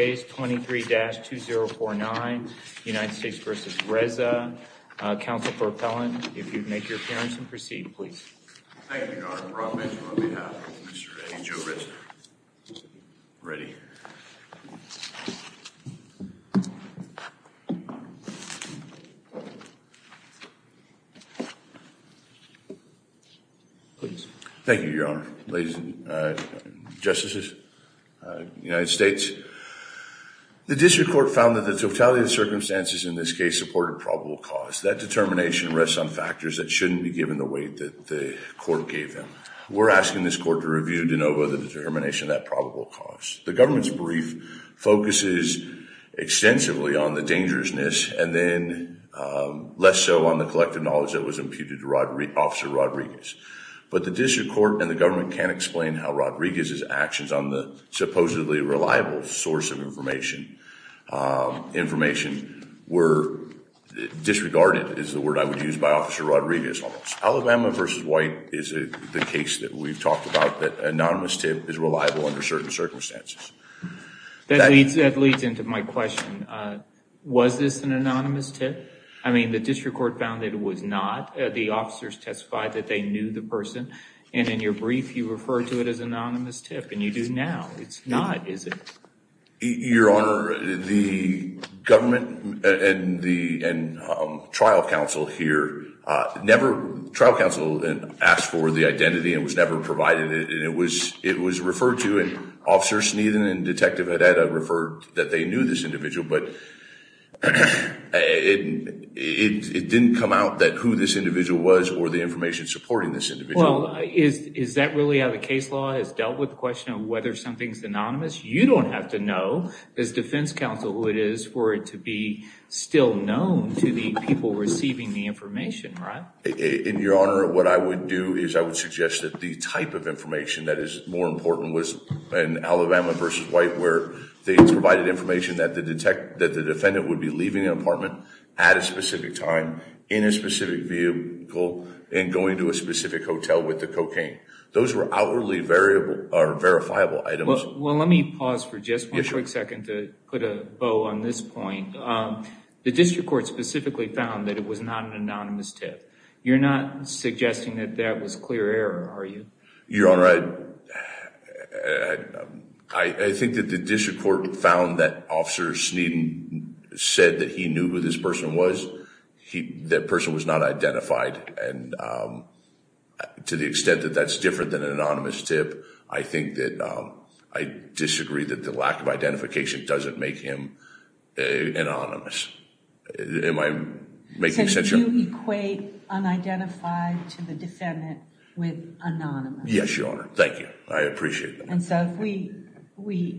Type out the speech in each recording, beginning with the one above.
23-2049. United States v. Reza. Counsel for appellant, if you'd make your appearance and proceed, please. Thank you, Your Honor. Brock Bench on behalf of Mr. A. Joe Reza. Ready. Thank you, Your Honor, ladies and justices, United States. The District Court found that the totality of the circumstances in this case supported probable cause. That determination rests on factors that shouldn't be given the weight that the court gave them. We're asking this court to review de novo the determination of that probable cause. The government's brief focuses extensively on the dangerousness and then less so on the collective knowledge that was imputed to Officer Rodriguez. But the District Court and the government can't explain how Rodriguez's actions on the supposedly reliable source of information were disregarded, is the word I would use, by Officer Rodriguez. Alabama v. White is the case that we've talked about, that anonymous tip is reliable under certain circumstances. That leads into my question. Was this an anonymous tip? I mean, the District Court found that it was not. The officers testified that they knew the person. And in your brief, you refer to it as anonymous tip, and you do now. It's not, is it? Your Honor, the government and the trial counsel here never, the trial counsel asked for the identity and was never provided it, and it was referred to, and Officer Sneeden and Detective Hededa referred that they knew this individual, but it didn't come out that who this individual was or the information supporting this individual. Is that really how the case law has dealt with the question of whether something's anonymous? You don't have to know, as defense counsel, who it is for it to be still known to the people receiving the information, right? In your Honor, what I would do is I would suggest that the type of information that is more important was in Alabama v. White, where they provided information that the defendant would be leaving an apartment at a specific time, in a specific vehicle, and going to a specific hotel with the cocaine. Those were outwardly verifiable items. Well, let me pause for just one quick second to put a bow on this point. The district court specifically found that it was not an anonymous tip. You're not suggesting that that was clear error, are you? Your Honor, I think that the district court found that Officer Sneeden said that he knew who this person was. That person was not identified, and to the extent that that's different than I disagree that the lack of identification doesn't make him anonymous. Am I making sense here? So you equate unidentified to the defendant with anonymous? Yes, Your Honor. Thank you. I appreciate that.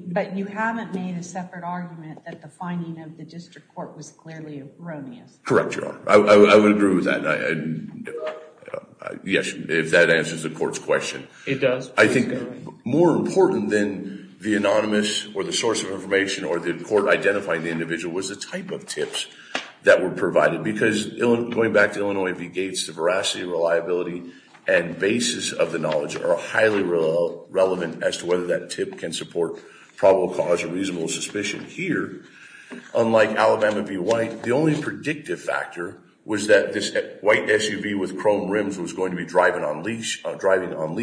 But you haven't made a separate argument that the finding of the district court was clearly erroneous. Correct, Your Honor. I would agree with that. Yes, if that answers the court's question. It does. I think more important than the anonymous or the source of information or the court identifying the individual was the type of tips that were provided. Because going back to Illinois v. Gates, the veracity, reliability, and basis of the knowledge are highly relevant as to whether that tip can support probable cause or reasonable suspicion. Here, unlike Alabama v. White, the only predictive factor was that this white SUV with chrome rims was going to be driving on Lee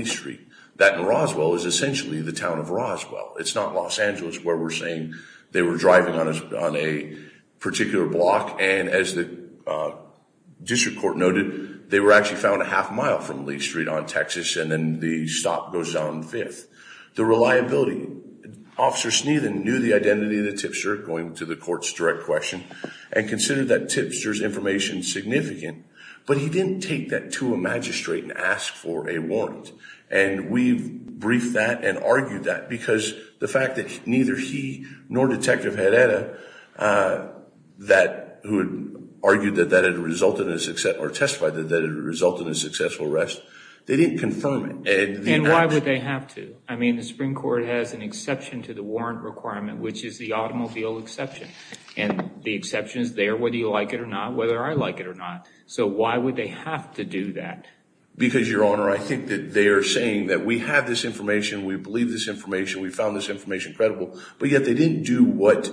Street. That, in Roswell, is essentially the town of Roswell. It's not Los Angeles where we're saying they were driving on a particular block, and as the district court noted, they were actually found a half mile from Lee Street on Texas, and then the stop goes down Fifth. The reliability. Officer Sneedon knew the identity of the tipster, going to the court's direct question, and considered that tipster's information significant, but he didn't take that to a magistrate and ask for a warrant. And we've briefed that and argued that, because the fact that neither he nor Detective Herrera, who had argued that that had resulted in a successful arrest, they didn't confirm it. And why would they have to? I mean, the Supreme Court has an exception to the warrant requirement, which is the automobile exception. And the exception is there whether you like it or not, whether I like it or not. So why would they have to do that? Because, Your Honor, I think that they are saying that we have this information, we believe this information, we found this information credible, but yet they didn't do what,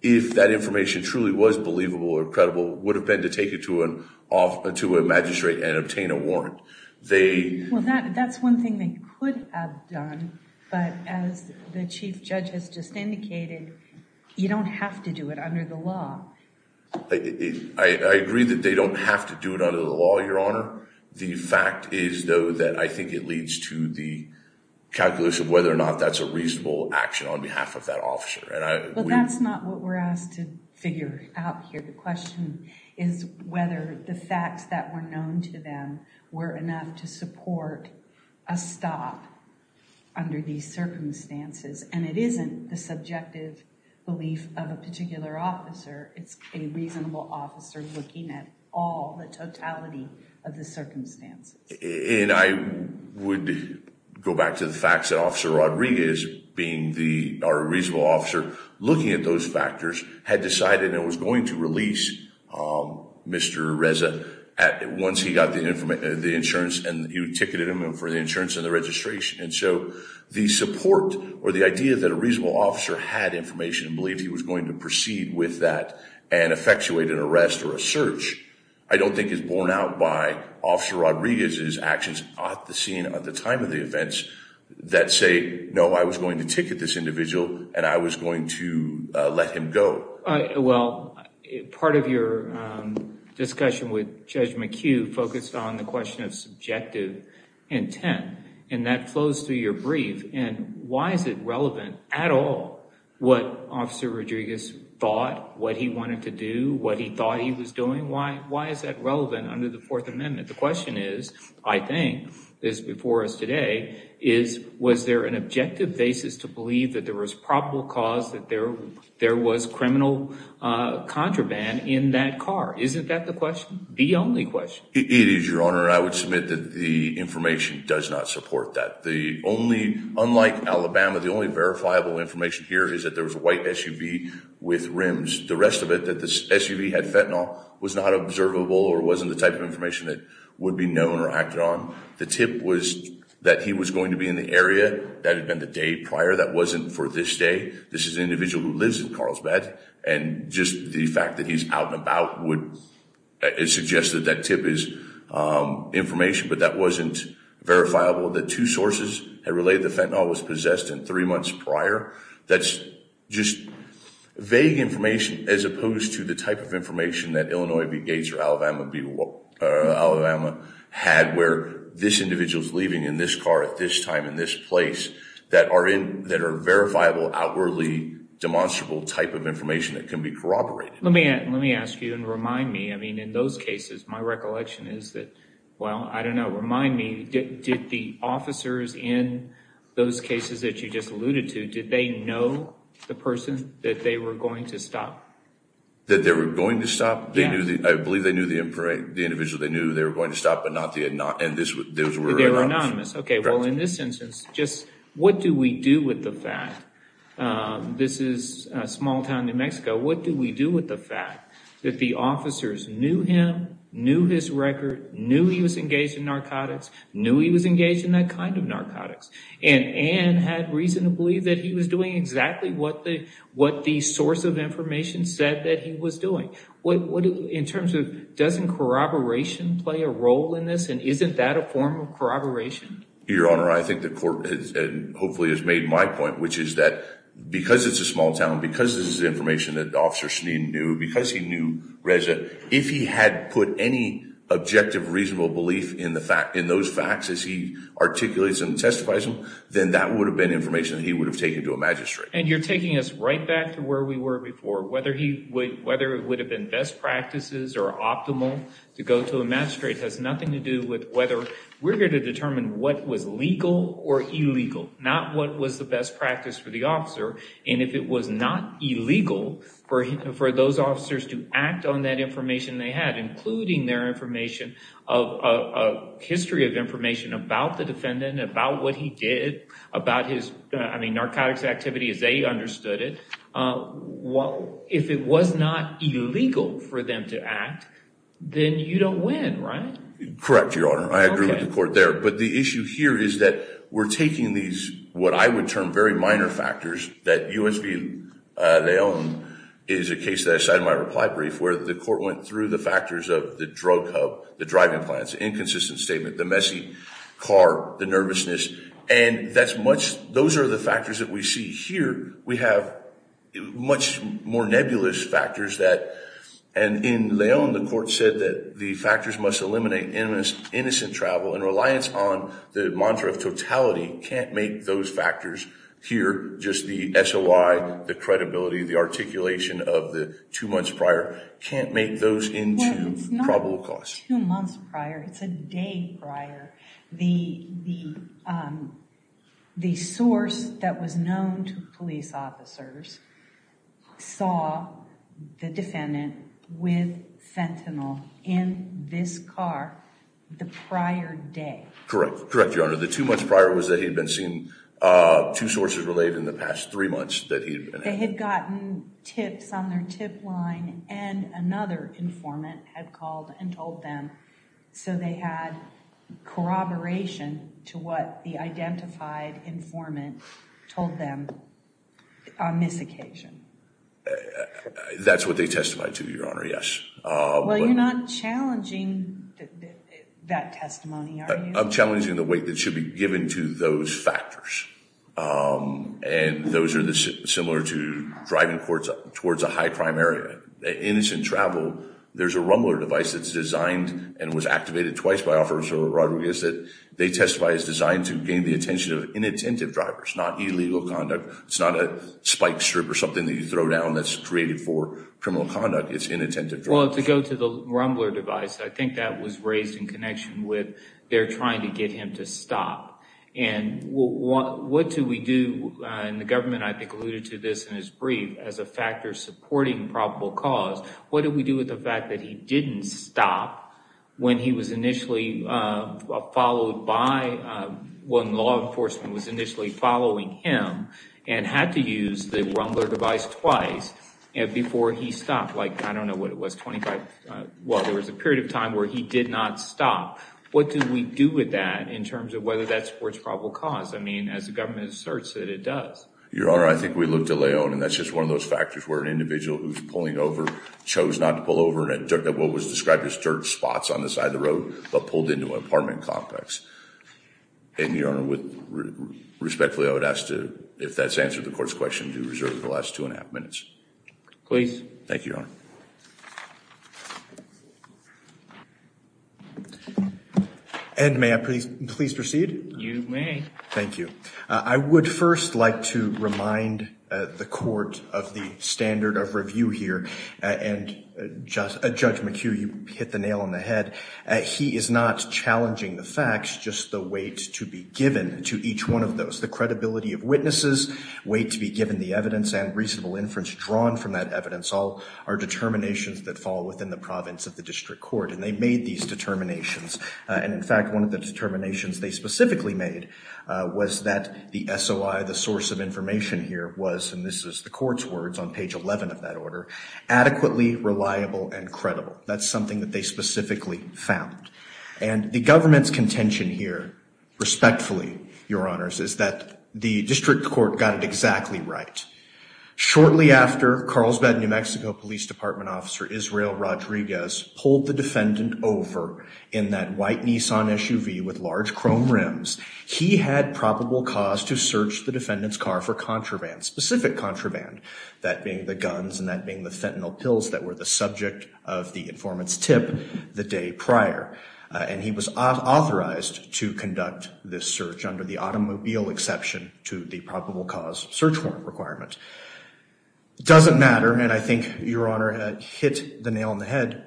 if that information truly was believable or credible, would have been to take it to a magistrate and obtain a warrant. Well, that's one thing they could have done, but as the Chief Judge has just indicated, you don't have to do it under the law. I agree that they don't have to do it under the law, Your Honor. The fact is, though, that I think it leads to the calculus of whether or not that's a reasonable action on behalf of that officer. But that's not what we're asked to figure out here. The question is whether the facts that were known to them were enough to support a stop under these circumstances. And it isn't the subjective belief of a particular officer. It's a reasonable officer looking at all, the totality of the circumstances. And I would go back to the facts that Officer Rodriguez, being our reasonable officer, looking at those factors, had decided and was going to release Mr. Reza once he got the insurance and he ticketed him for the insurance and the registration. And so the support or the reasonable officer had information and believed he was going to proceed with that and effectuate an arrest or a search, I don't think is borne out by Officer Rodriguez's actions at the scene at the time of the events that say, no, I was going to ticket this individual and I was going to let him go. Well, part of your discussion with Judge McHugh focused on the question of subjective intent. And that flows through your brief. And why is it relevant at all what Officer Rodriguez thought, what he wanted to do, what he thought he was doing? Why? Why is that relevant under the Fourth Amendment? The question is, I think, as before us today, is was there an objective basis to believe that there was probable cause that there there was criminal contraband in that car? Isn't that the question? The only question? It is, Your Honor. I would submit that the information does not support that. The only unlike Alabama, the only verifiable information here is that there was a white SUV with rims. The rest of it that this SUV had fentanyl was not observable or wasn't the type of information that would be known or acted on. The tip was that he was going to be in the area that had been the day prior. That wasn't for this day. This is an individual who lives in Carlsbad. And just the fact that he's out and about would suggest that that tip is information. But that wasn't verifiable. The two sources had relayed the fentanyl was possessed in three months prior. That's just vague information as opposed to the type of information that Illinois v. Gates or Alabama had where this individual is leaving in this car at this time in this place that are in that are verifiable, outwardly demonstrable type of information that can be corroborated. Let me let me ask you and remind me. I mean, in those cases, my recollection is that, well, I don't know. Remind me, did the officers in those cases that you just alluded to, did they know the person that they were going to stop, that they were going to stop? I believe they knew the individual. They knew they were going to stop, but not the anonymous. Okay, well, in this instance, just what do we do with the fact? This is a small town in New Mexico. What do we do with the fact that the officers knew him, knew his record, knew he was engaged in narcotics, knew he was engaged in that kind of narcotics, and had reason to believe that he was doing exactly what the source of information said that he was doing? In terms of, doesn't corroboration play a role in this, and isn't that a form of corroboration? Your Honor, I think the court has, and hopefully has made my point, which is that because it's a small town, because this is information that Officer Schneem knew, because he knew Reza, if he had put any objective, reasonable belief in those facts as he articulates and testifies them, then that would have been information that he would have taken to a magistrate. And you're taking us right back to where we were before. Whether it would have been best practices or optimal to go to a magistrate has nothing to do with whether we're going to determine what was legal or illegal, not what was the best practice for the officer. And if it was not illegal for those officers to act on that information they had, including their information, a history of information about the defendant, about what he did, about his, I mean, narcotics activity as they understood it, if it was not illegal for them to act, then you don't win, right? Correct, Your Honor. I agree with the court there. But the issue here is that we're taking these, what I would term very minor factors, that U.S. v. Leon is a case that I cited in my reply brief, where the court went through the factors of the drug hub, the driving plans, inconsistent statement, the messy car, the nervousness, and that's much, those are the factors that we see here. We have much more nebulous factors that, and in Leon the court said that the factors must eliminate innocent travel and reliance on the mantra of totality can't make those factors here, just the SOI, the credibility, the articulation of the two months prior, can't make those into probable cause. Two months prior, it's a day prior, the source that was known to police officers saw the defendant with fentanyl in this car the prior day. Correct. Correct, Your Honor. The two months prior was that he'd been seen, two sources related in the past three months that he'd been in. They had gotten tips on their tip line and another informant had called and told them, so they had corroboration to what the identified informant told them on this occasion. That's what they testified to, Your Honor, yes. Well, you're not challenging that testimony, are you? I'm challenging the weight that should be given to those factors, and those are similar to driving towards a high crime area. Innocent travel, there's a Rumbler device that's designed and was activated twice by Officer Rodriguez that they testify is designed to gain the attention of inattentive drivers, not illegal conduct. It's not a spike strip or something that you throw down that's created for criminal conduct. It's inattentive drivers. Well, to go to the Rumbler device, I think that was raised in connection with they're trying to get him to stop. And what do we do, and the government, I think, alluded to this in his brief, as a factor supporting probable cause, what do we do with the fact that he didn't stop when he was initially followed by, when law enforcement was initially following him and had to use the Rumbler device twice before he stopped? Like, I don't know what it was, 25, well, there was a period of time where he did not stop. What do we do with that in terms of whether that supports probable cause? I mean, as the government asserts it, it does. Your Honor, I think we looked at Leon, and that's just one of those factors where an individual who's pulling over chose not to pull over at what was described as dirt spots on the side of the road, but pulled into an apartment complex. And, Your Honor, respectfully, I would ask to, if that's answered the court's question, to reserve the last two and a half minutes. Please. Thank you. I would first like to remind the court of the standard of review here. And, Judge McHugh, you hit the nail on the head. He is not challenging the facts, just the weight to be given to each one of those. The credibility of witnesses, weight to be given the evidence and reasonable inference drawn from that evidence, all are determinations that fall within the province of the district court. And they made these determinations. And, in fact, one of the determinations they specifically made was that the SOI, the source of information here, was, and this is the court's words on page 11 of that order, adequately reliable and credible. That's something that they specifically found. And the government's contention here, respectfully, Your Honors, is that the district court got it exactly right. Shortly after Carlsbad, New Mexico, police department officer Israel Rodriguez pulled the defendant over in that white Nissan SUV with large chrome rims. He had probable cause to search the defendant's car for contraband, specific contraband, that being the guns and that being the fentanyl pills that were the subject of the informant's tip the day prior. And he was authorized to conduct this search under the automobile exception to the probable cause search warrant requirement. Doesn't matter, and I think, Your Honor, hit the nail on the head,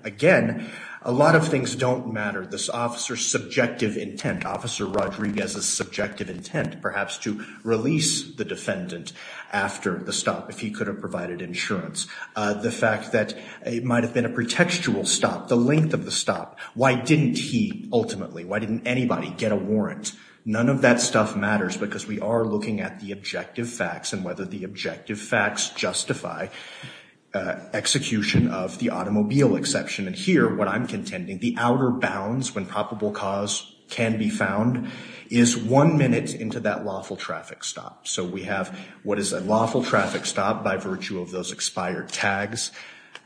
a lot of things don't matter. This officer's subjective intent, Officer Rodriguez's subjective intent perhaps to release the defendant after the stop if he could have provided insurance. The fact that it might have been a pretextual stop, the length of the stop. Why didn't he ultimately, why didn't anybody get a warrant? None of that stuff matters because we are looking at the objective facts and whether the objective facts justify execution of the crime. The outer bounds when probable cause can be found is one minute into that lawful traffic stop. So we have what is a lawful traffic stop by virtue of those expired tags.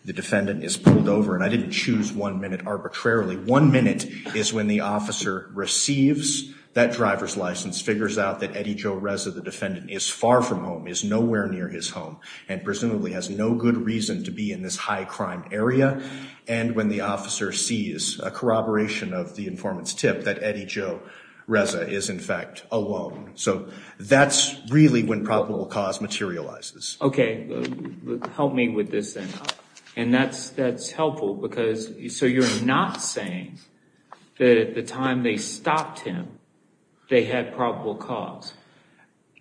The defendant is pulled over, and I didn't choose one minute arbitrarily. One minute is when the officer receives that driver's license, figures out that Eddie Joe Reza, the defendant, is far from home, is nowhere near his home, and presumably has no good reason to be in this high crime area, and when the officer sees a corroboration of the informant's tip that Eddie Joe Reza is in fact alone. So that's really when probable cause materializes. Okay. Help me with this then. And that's helpful because, so you're not saying that at the time they stopped him, they had probable cause?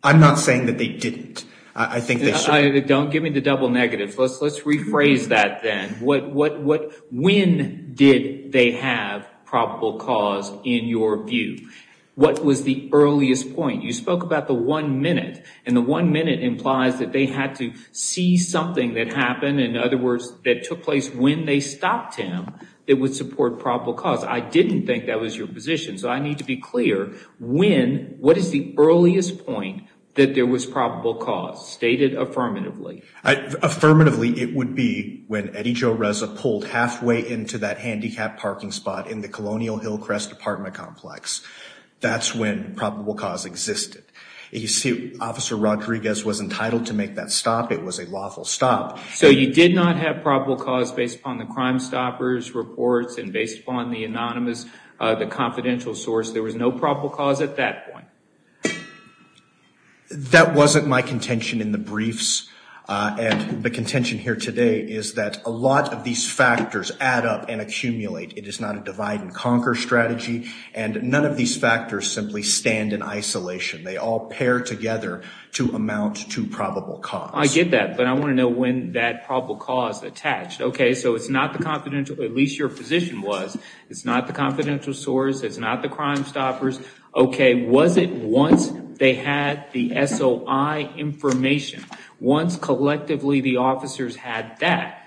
I'm not saying that they didn't. I think they certainly Give me the double negatives. Let's rephrase that then. When did they have probable cause in your view? What was the earliest point? You spoke about the one minute, and the one minute implies that they had to see something that happened, in other words, that took place when they stopped him, that would support probable cause. I didn't think that was your position, so I need to be clear. When, what is the earliest point that there was probable cause stated affirmatively? Affirmatively, it would be when Eddie Joe Reza pulled halfway into that handicapped parking spot in the Colonial Hillcrest apartment complex. That's when probable cause existed. You see, Officer Rodriguez was entitled to make that stop. It was a lawful stop. So you did not have probable cause based upon the Crimestoppers reports and based upon the anonymous, the confidential source. There was no probable cause at that point? That wasn't my contention in the briefs, and the contention here today is that a lot of these factors add up and accumulate. It is not a divide and conquer strategy, and none of these factors simply stand in isolation. They all pair together to amount to probable cause. I get that, but I want to know when that probable cause attached. Okay, so it's not the confidential, at least your position was, it's not the confidential source, it's not the information. Once they had the SOI information, once collectively the officers had that,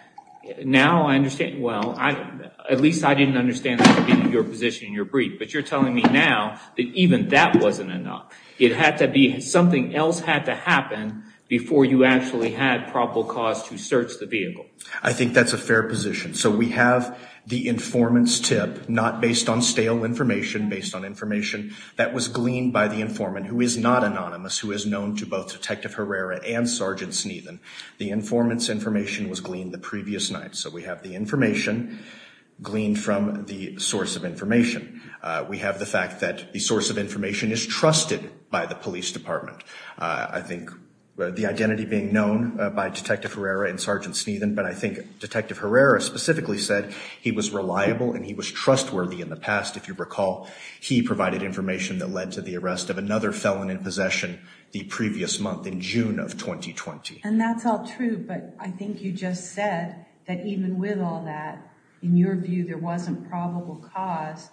now I understand, well, at least I didn't understand your position in your brief, but you're telling me now that even that wasn't enough. It had to be, something else had to happen before you actually had probable cause to search the vehicle. I think that's a fair position. So we have the informant's tip, not based on stale information, based on information that was gleaned by the informant, who is not anonymous, who is known to both Detective Herrera and Sergeant Sneathan. The informant's information was gleaned the previous night, so we have the information gleaned from the source of information. We have the fact that the source of information is trusted by the police department. I think the identity being known by Detective Herrera and Sergeant Sneathan, but I think Detective Herrera specifically said he was reliable and he was trustworthy in the past, if you recall. He provided information that led to the arrest of another felon in possession the previous month in June of 2020. And that's all true, but I think you just said that even with all that, in your view, there wasn't probable cause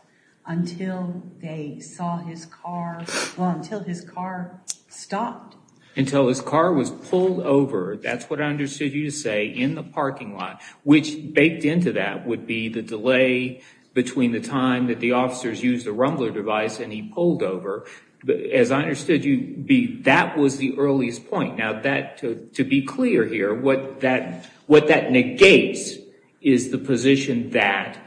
until they saw his car, well, until his car stopped. Until his car was pulled over, that's what I understood you to say, in the parking lot, which baked into that would be the delay between the time that the officers used the rumbler device and he pulled over. As I understood you, that was the earliest point. Now, to be clear here, what that negates is the position that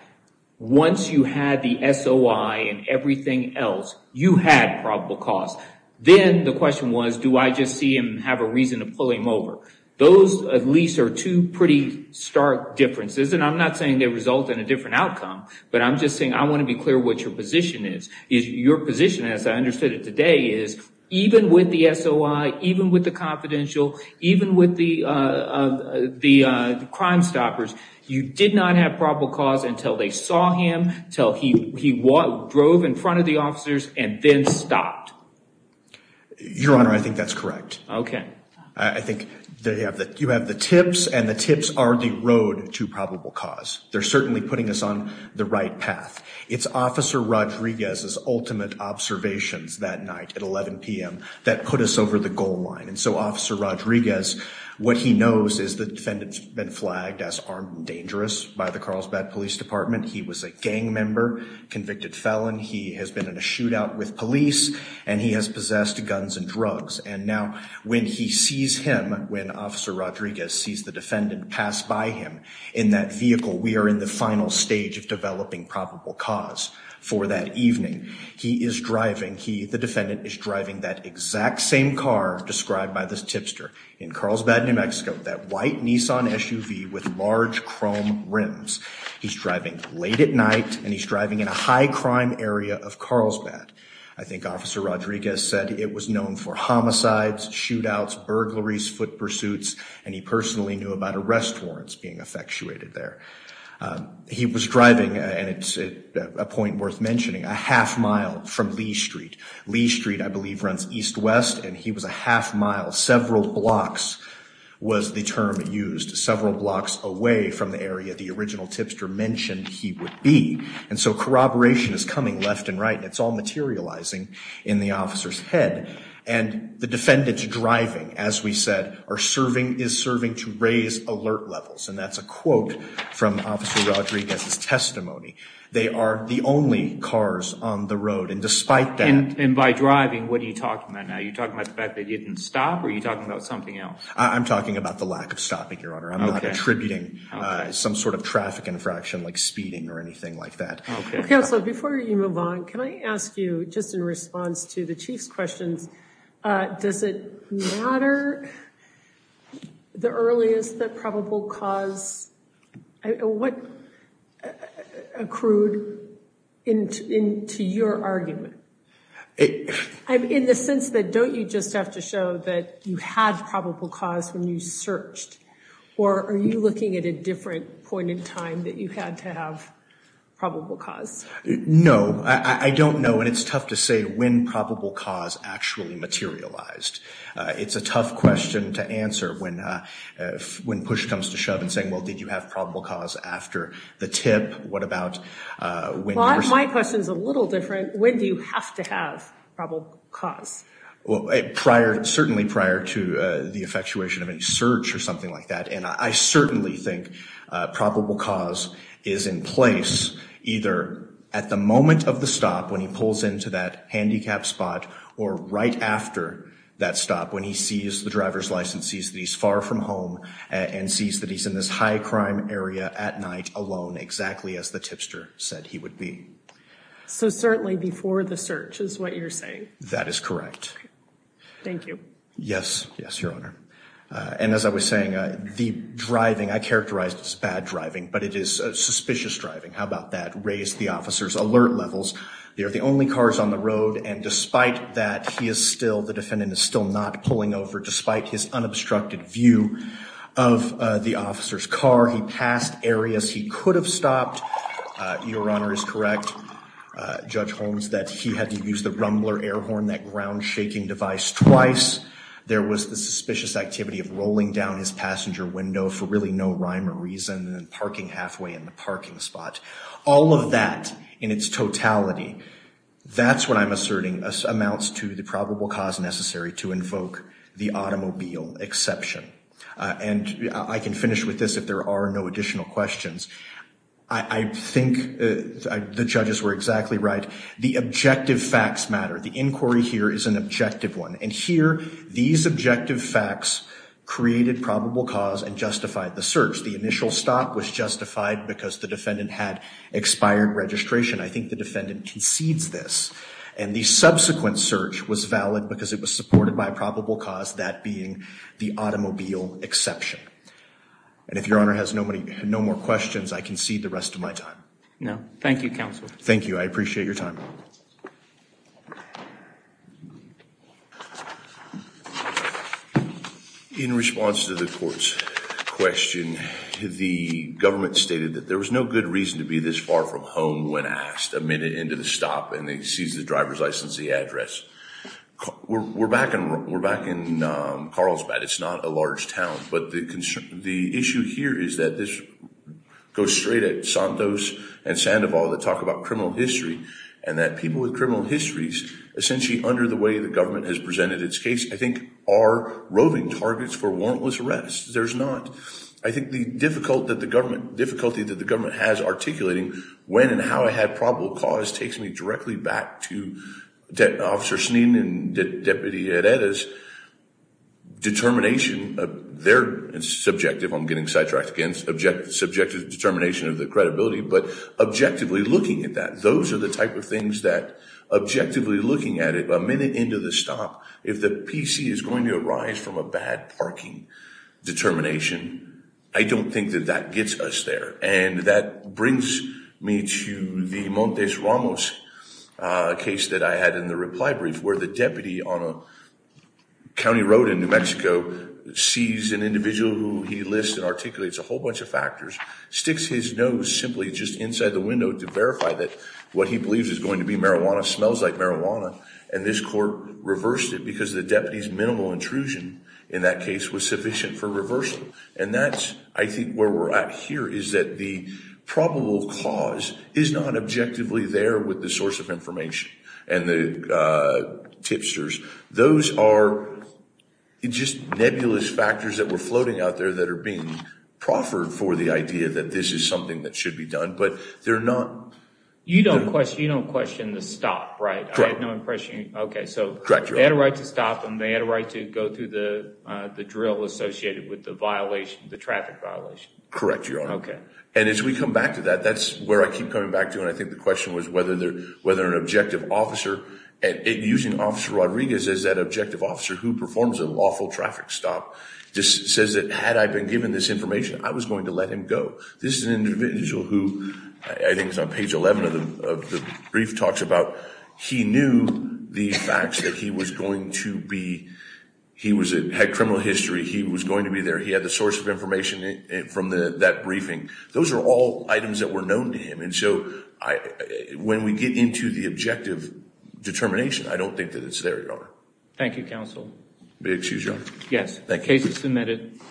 once you had the SOI and everything else, you had probable cause. Then the question was, do I just see him and have a reason to pull him over? Those, at least, are two pretty stark differences. And I'm not saying they result in a different outcome, but I'm just saying I want to be clear what your position is. Your position, as I understood it today, is even with the SOI, even with the confidential, even with the crime stoppers, you did not have probable cause until they saw him, until he drove in front of the officers and then stopped. Your Honor, I think that's correct. Okay. I think you have the tips, and the tips are the road to probable cause. They're certainly putting us on the right path. It's Officer Rodriguez's ultimate observations that night at 11 p.m. that put us over the goal line. And so, Officer Rodriguez, what he knows is the defendant's been flagged as armed and dangerous by the Carlsbad Police Department. He was a gang member, convicted felon. He has been in a shootout with police, and he has possessed guns and drugs. And now, when he sees him, when Officer Rodriguez sees the defendant pass by him in that vehicle, we are in the final stage of developing probable cause for that evening. He is driving, he, the defendant, is driving that exact same car described by the tipster in Carlsbad, New Mexico, that white Nissan SUV with large chrome rims. He's driving late at night, and he's driving in a high-crime area of Carlsbad. I think Officer Rodriguez said it was known for homicides, shootouts, burglaries, foot pursuits, and he personally knew about arrest warrants being effectuated there. He was driving, and it's a point worth mentioning, a half-mile from Lee Street. Lee Street, I believe, runs east-west, and he was a half-mile, several blocks was the term used, several blocks away from the area the original tipster mentioned he would be. And so corroboration is coming left and right, and it's all materializing in the officer's head. And the defendant's driving, as we said, is serving to raise alert levels, and that's a quote from Officer Rodriguez's testimony. They are the only cars on the road, and despite that... And by driving, what are you talking about now? Are you talking about the fact that he didn't stop, or are you talking about something else? I'm talking about the lack of stopping, Your Honor. I'm not attributing some sort of traffic infraction, like speeding or anything like that. Okay. Counsel, before you move on, can I ask you, just in response to the Chief's questions, does it matter the earliest that probable cause... What accrued into your argument? In the sense that, don't you just have to show that you had probable cause when you searched, or are you looking at a different point in time that you had to have probable cause? No. I don't know, and it's tough to say when probable cause actually materialized. It's a tough question to answer when push comes to shove in saying, well, did you have probable cause after the tip? What about when... My question's a little different. When do you have to have probable cause? Well, certainly prior to the effectuation of any search or something like that, and I certainly think probable cause is in place either at the moment of the stop, when he pulls into that handicapped spot, or right after that stop, when he sees the driver's license, sees that he's far from home, and sees that he's in this high-crime area at So certainly before the search is what you're saying? That is correct. Thank you. Yes, yes, Your Honor. And as I was saying, the driving, I characterized as bad driving, but it is suspicious driving. How about that? Raised the officer's alert levels. They're the only cars on the road, and despite that, he is still, the defendant is still not pulling over, despite his unobstructed view of the officer's car. He passed areas he could have passed, and it is correct, Judge Holmes, that he had to use the rumbler air horn, that ground-shaking device, twice. There was the suspicious activity of rolling down his passenger window for really no rhyme or reason, and then parking halfway in the parking spot. All of that in its totality, that's what I'm asserting amounts to the probable cause necessary to invoke the automobile exception. And I can finish with this if there are no additional questions. I think the judges were exactly right. The objective facts matter. The inquiry here is an objective one. And here, these objective facts created probable cause and justified the search. The initial stop was justified because the defendant had expired registration. I think the defendant concedes this. And the subsequent search was valid because it was supported by probable cause, that being the automobile exception. And if Your Honor has no more questions, I concede the rest of my time. No. Thank you, Counsel. Thank you. I appreciate your time. In response to the court's question, the government stated that there was no good reason to be this far from home when asked a minute into the stop, and they seized the driver's license and the address. We're back in Carlsbad. It's not a large town. But the issue here is that this goes straight at Santos and Sandoval that talk about criminal history, and that people with criminal histories, essentially under the way the government has presented its case, I think are roving targets for warrantless arrest. There's not. I think the difficulty that the government has articulating when and how it had probable cause takes me directly back to Officer Sneed and Deputy Herrera's determination, their subjective, I'm getting sidetracked again, subjective determination of the credibility, but objectively looking at that. Those are the type of things that, objectively looking at it, a minute into the stop, if the PC is going to arise from a bad parking determination, I don't think that gets us there. And that brings me to the Montes Ramos case that I had in the reply brief, where the deputy on a county road in New Mexico sees an individual who he lists and articulates a whole bunch of factors, sticks his nose simply just inside the window to verify that what he believes is going to be marijuana smells like marijuana, and this court reversed it because the deputy's minimal intrusion in that case was sufficient for reversal. And that's, I think, where we're at here, is that the probable cause is not objectively there with the source of information and the tipsters. Those are just nebulous factors that were floating out there that are being proffered for the idea that this is something that should be done, but they're not. You don't question the stop, right? Correct. I have no impression. Okay, so they had a right to stop and they had a right to go through the drill associated with the violation, the traffic violation. Correct, Your Honor. Okay. And as we come back to that, that's where I keep coming back to, and I think the question was whether an objective officer, and using Officer Rodriguez as that objective officer who performs a lawful traffic stop, just says that had I been given this information, I was going to let him go. This is an individual who, I think it's on page 11 of the brief, talks about he knew the facts that he was going to be, he had criminal history, he was going to be there, he had the source of information from that briefing. Those are all items that were known to him, and so when we get into the objective determination, I don't think that it's there, Your Honor. Thank you, Counsel. Excuse me, Your Honor. Yes. Thank you.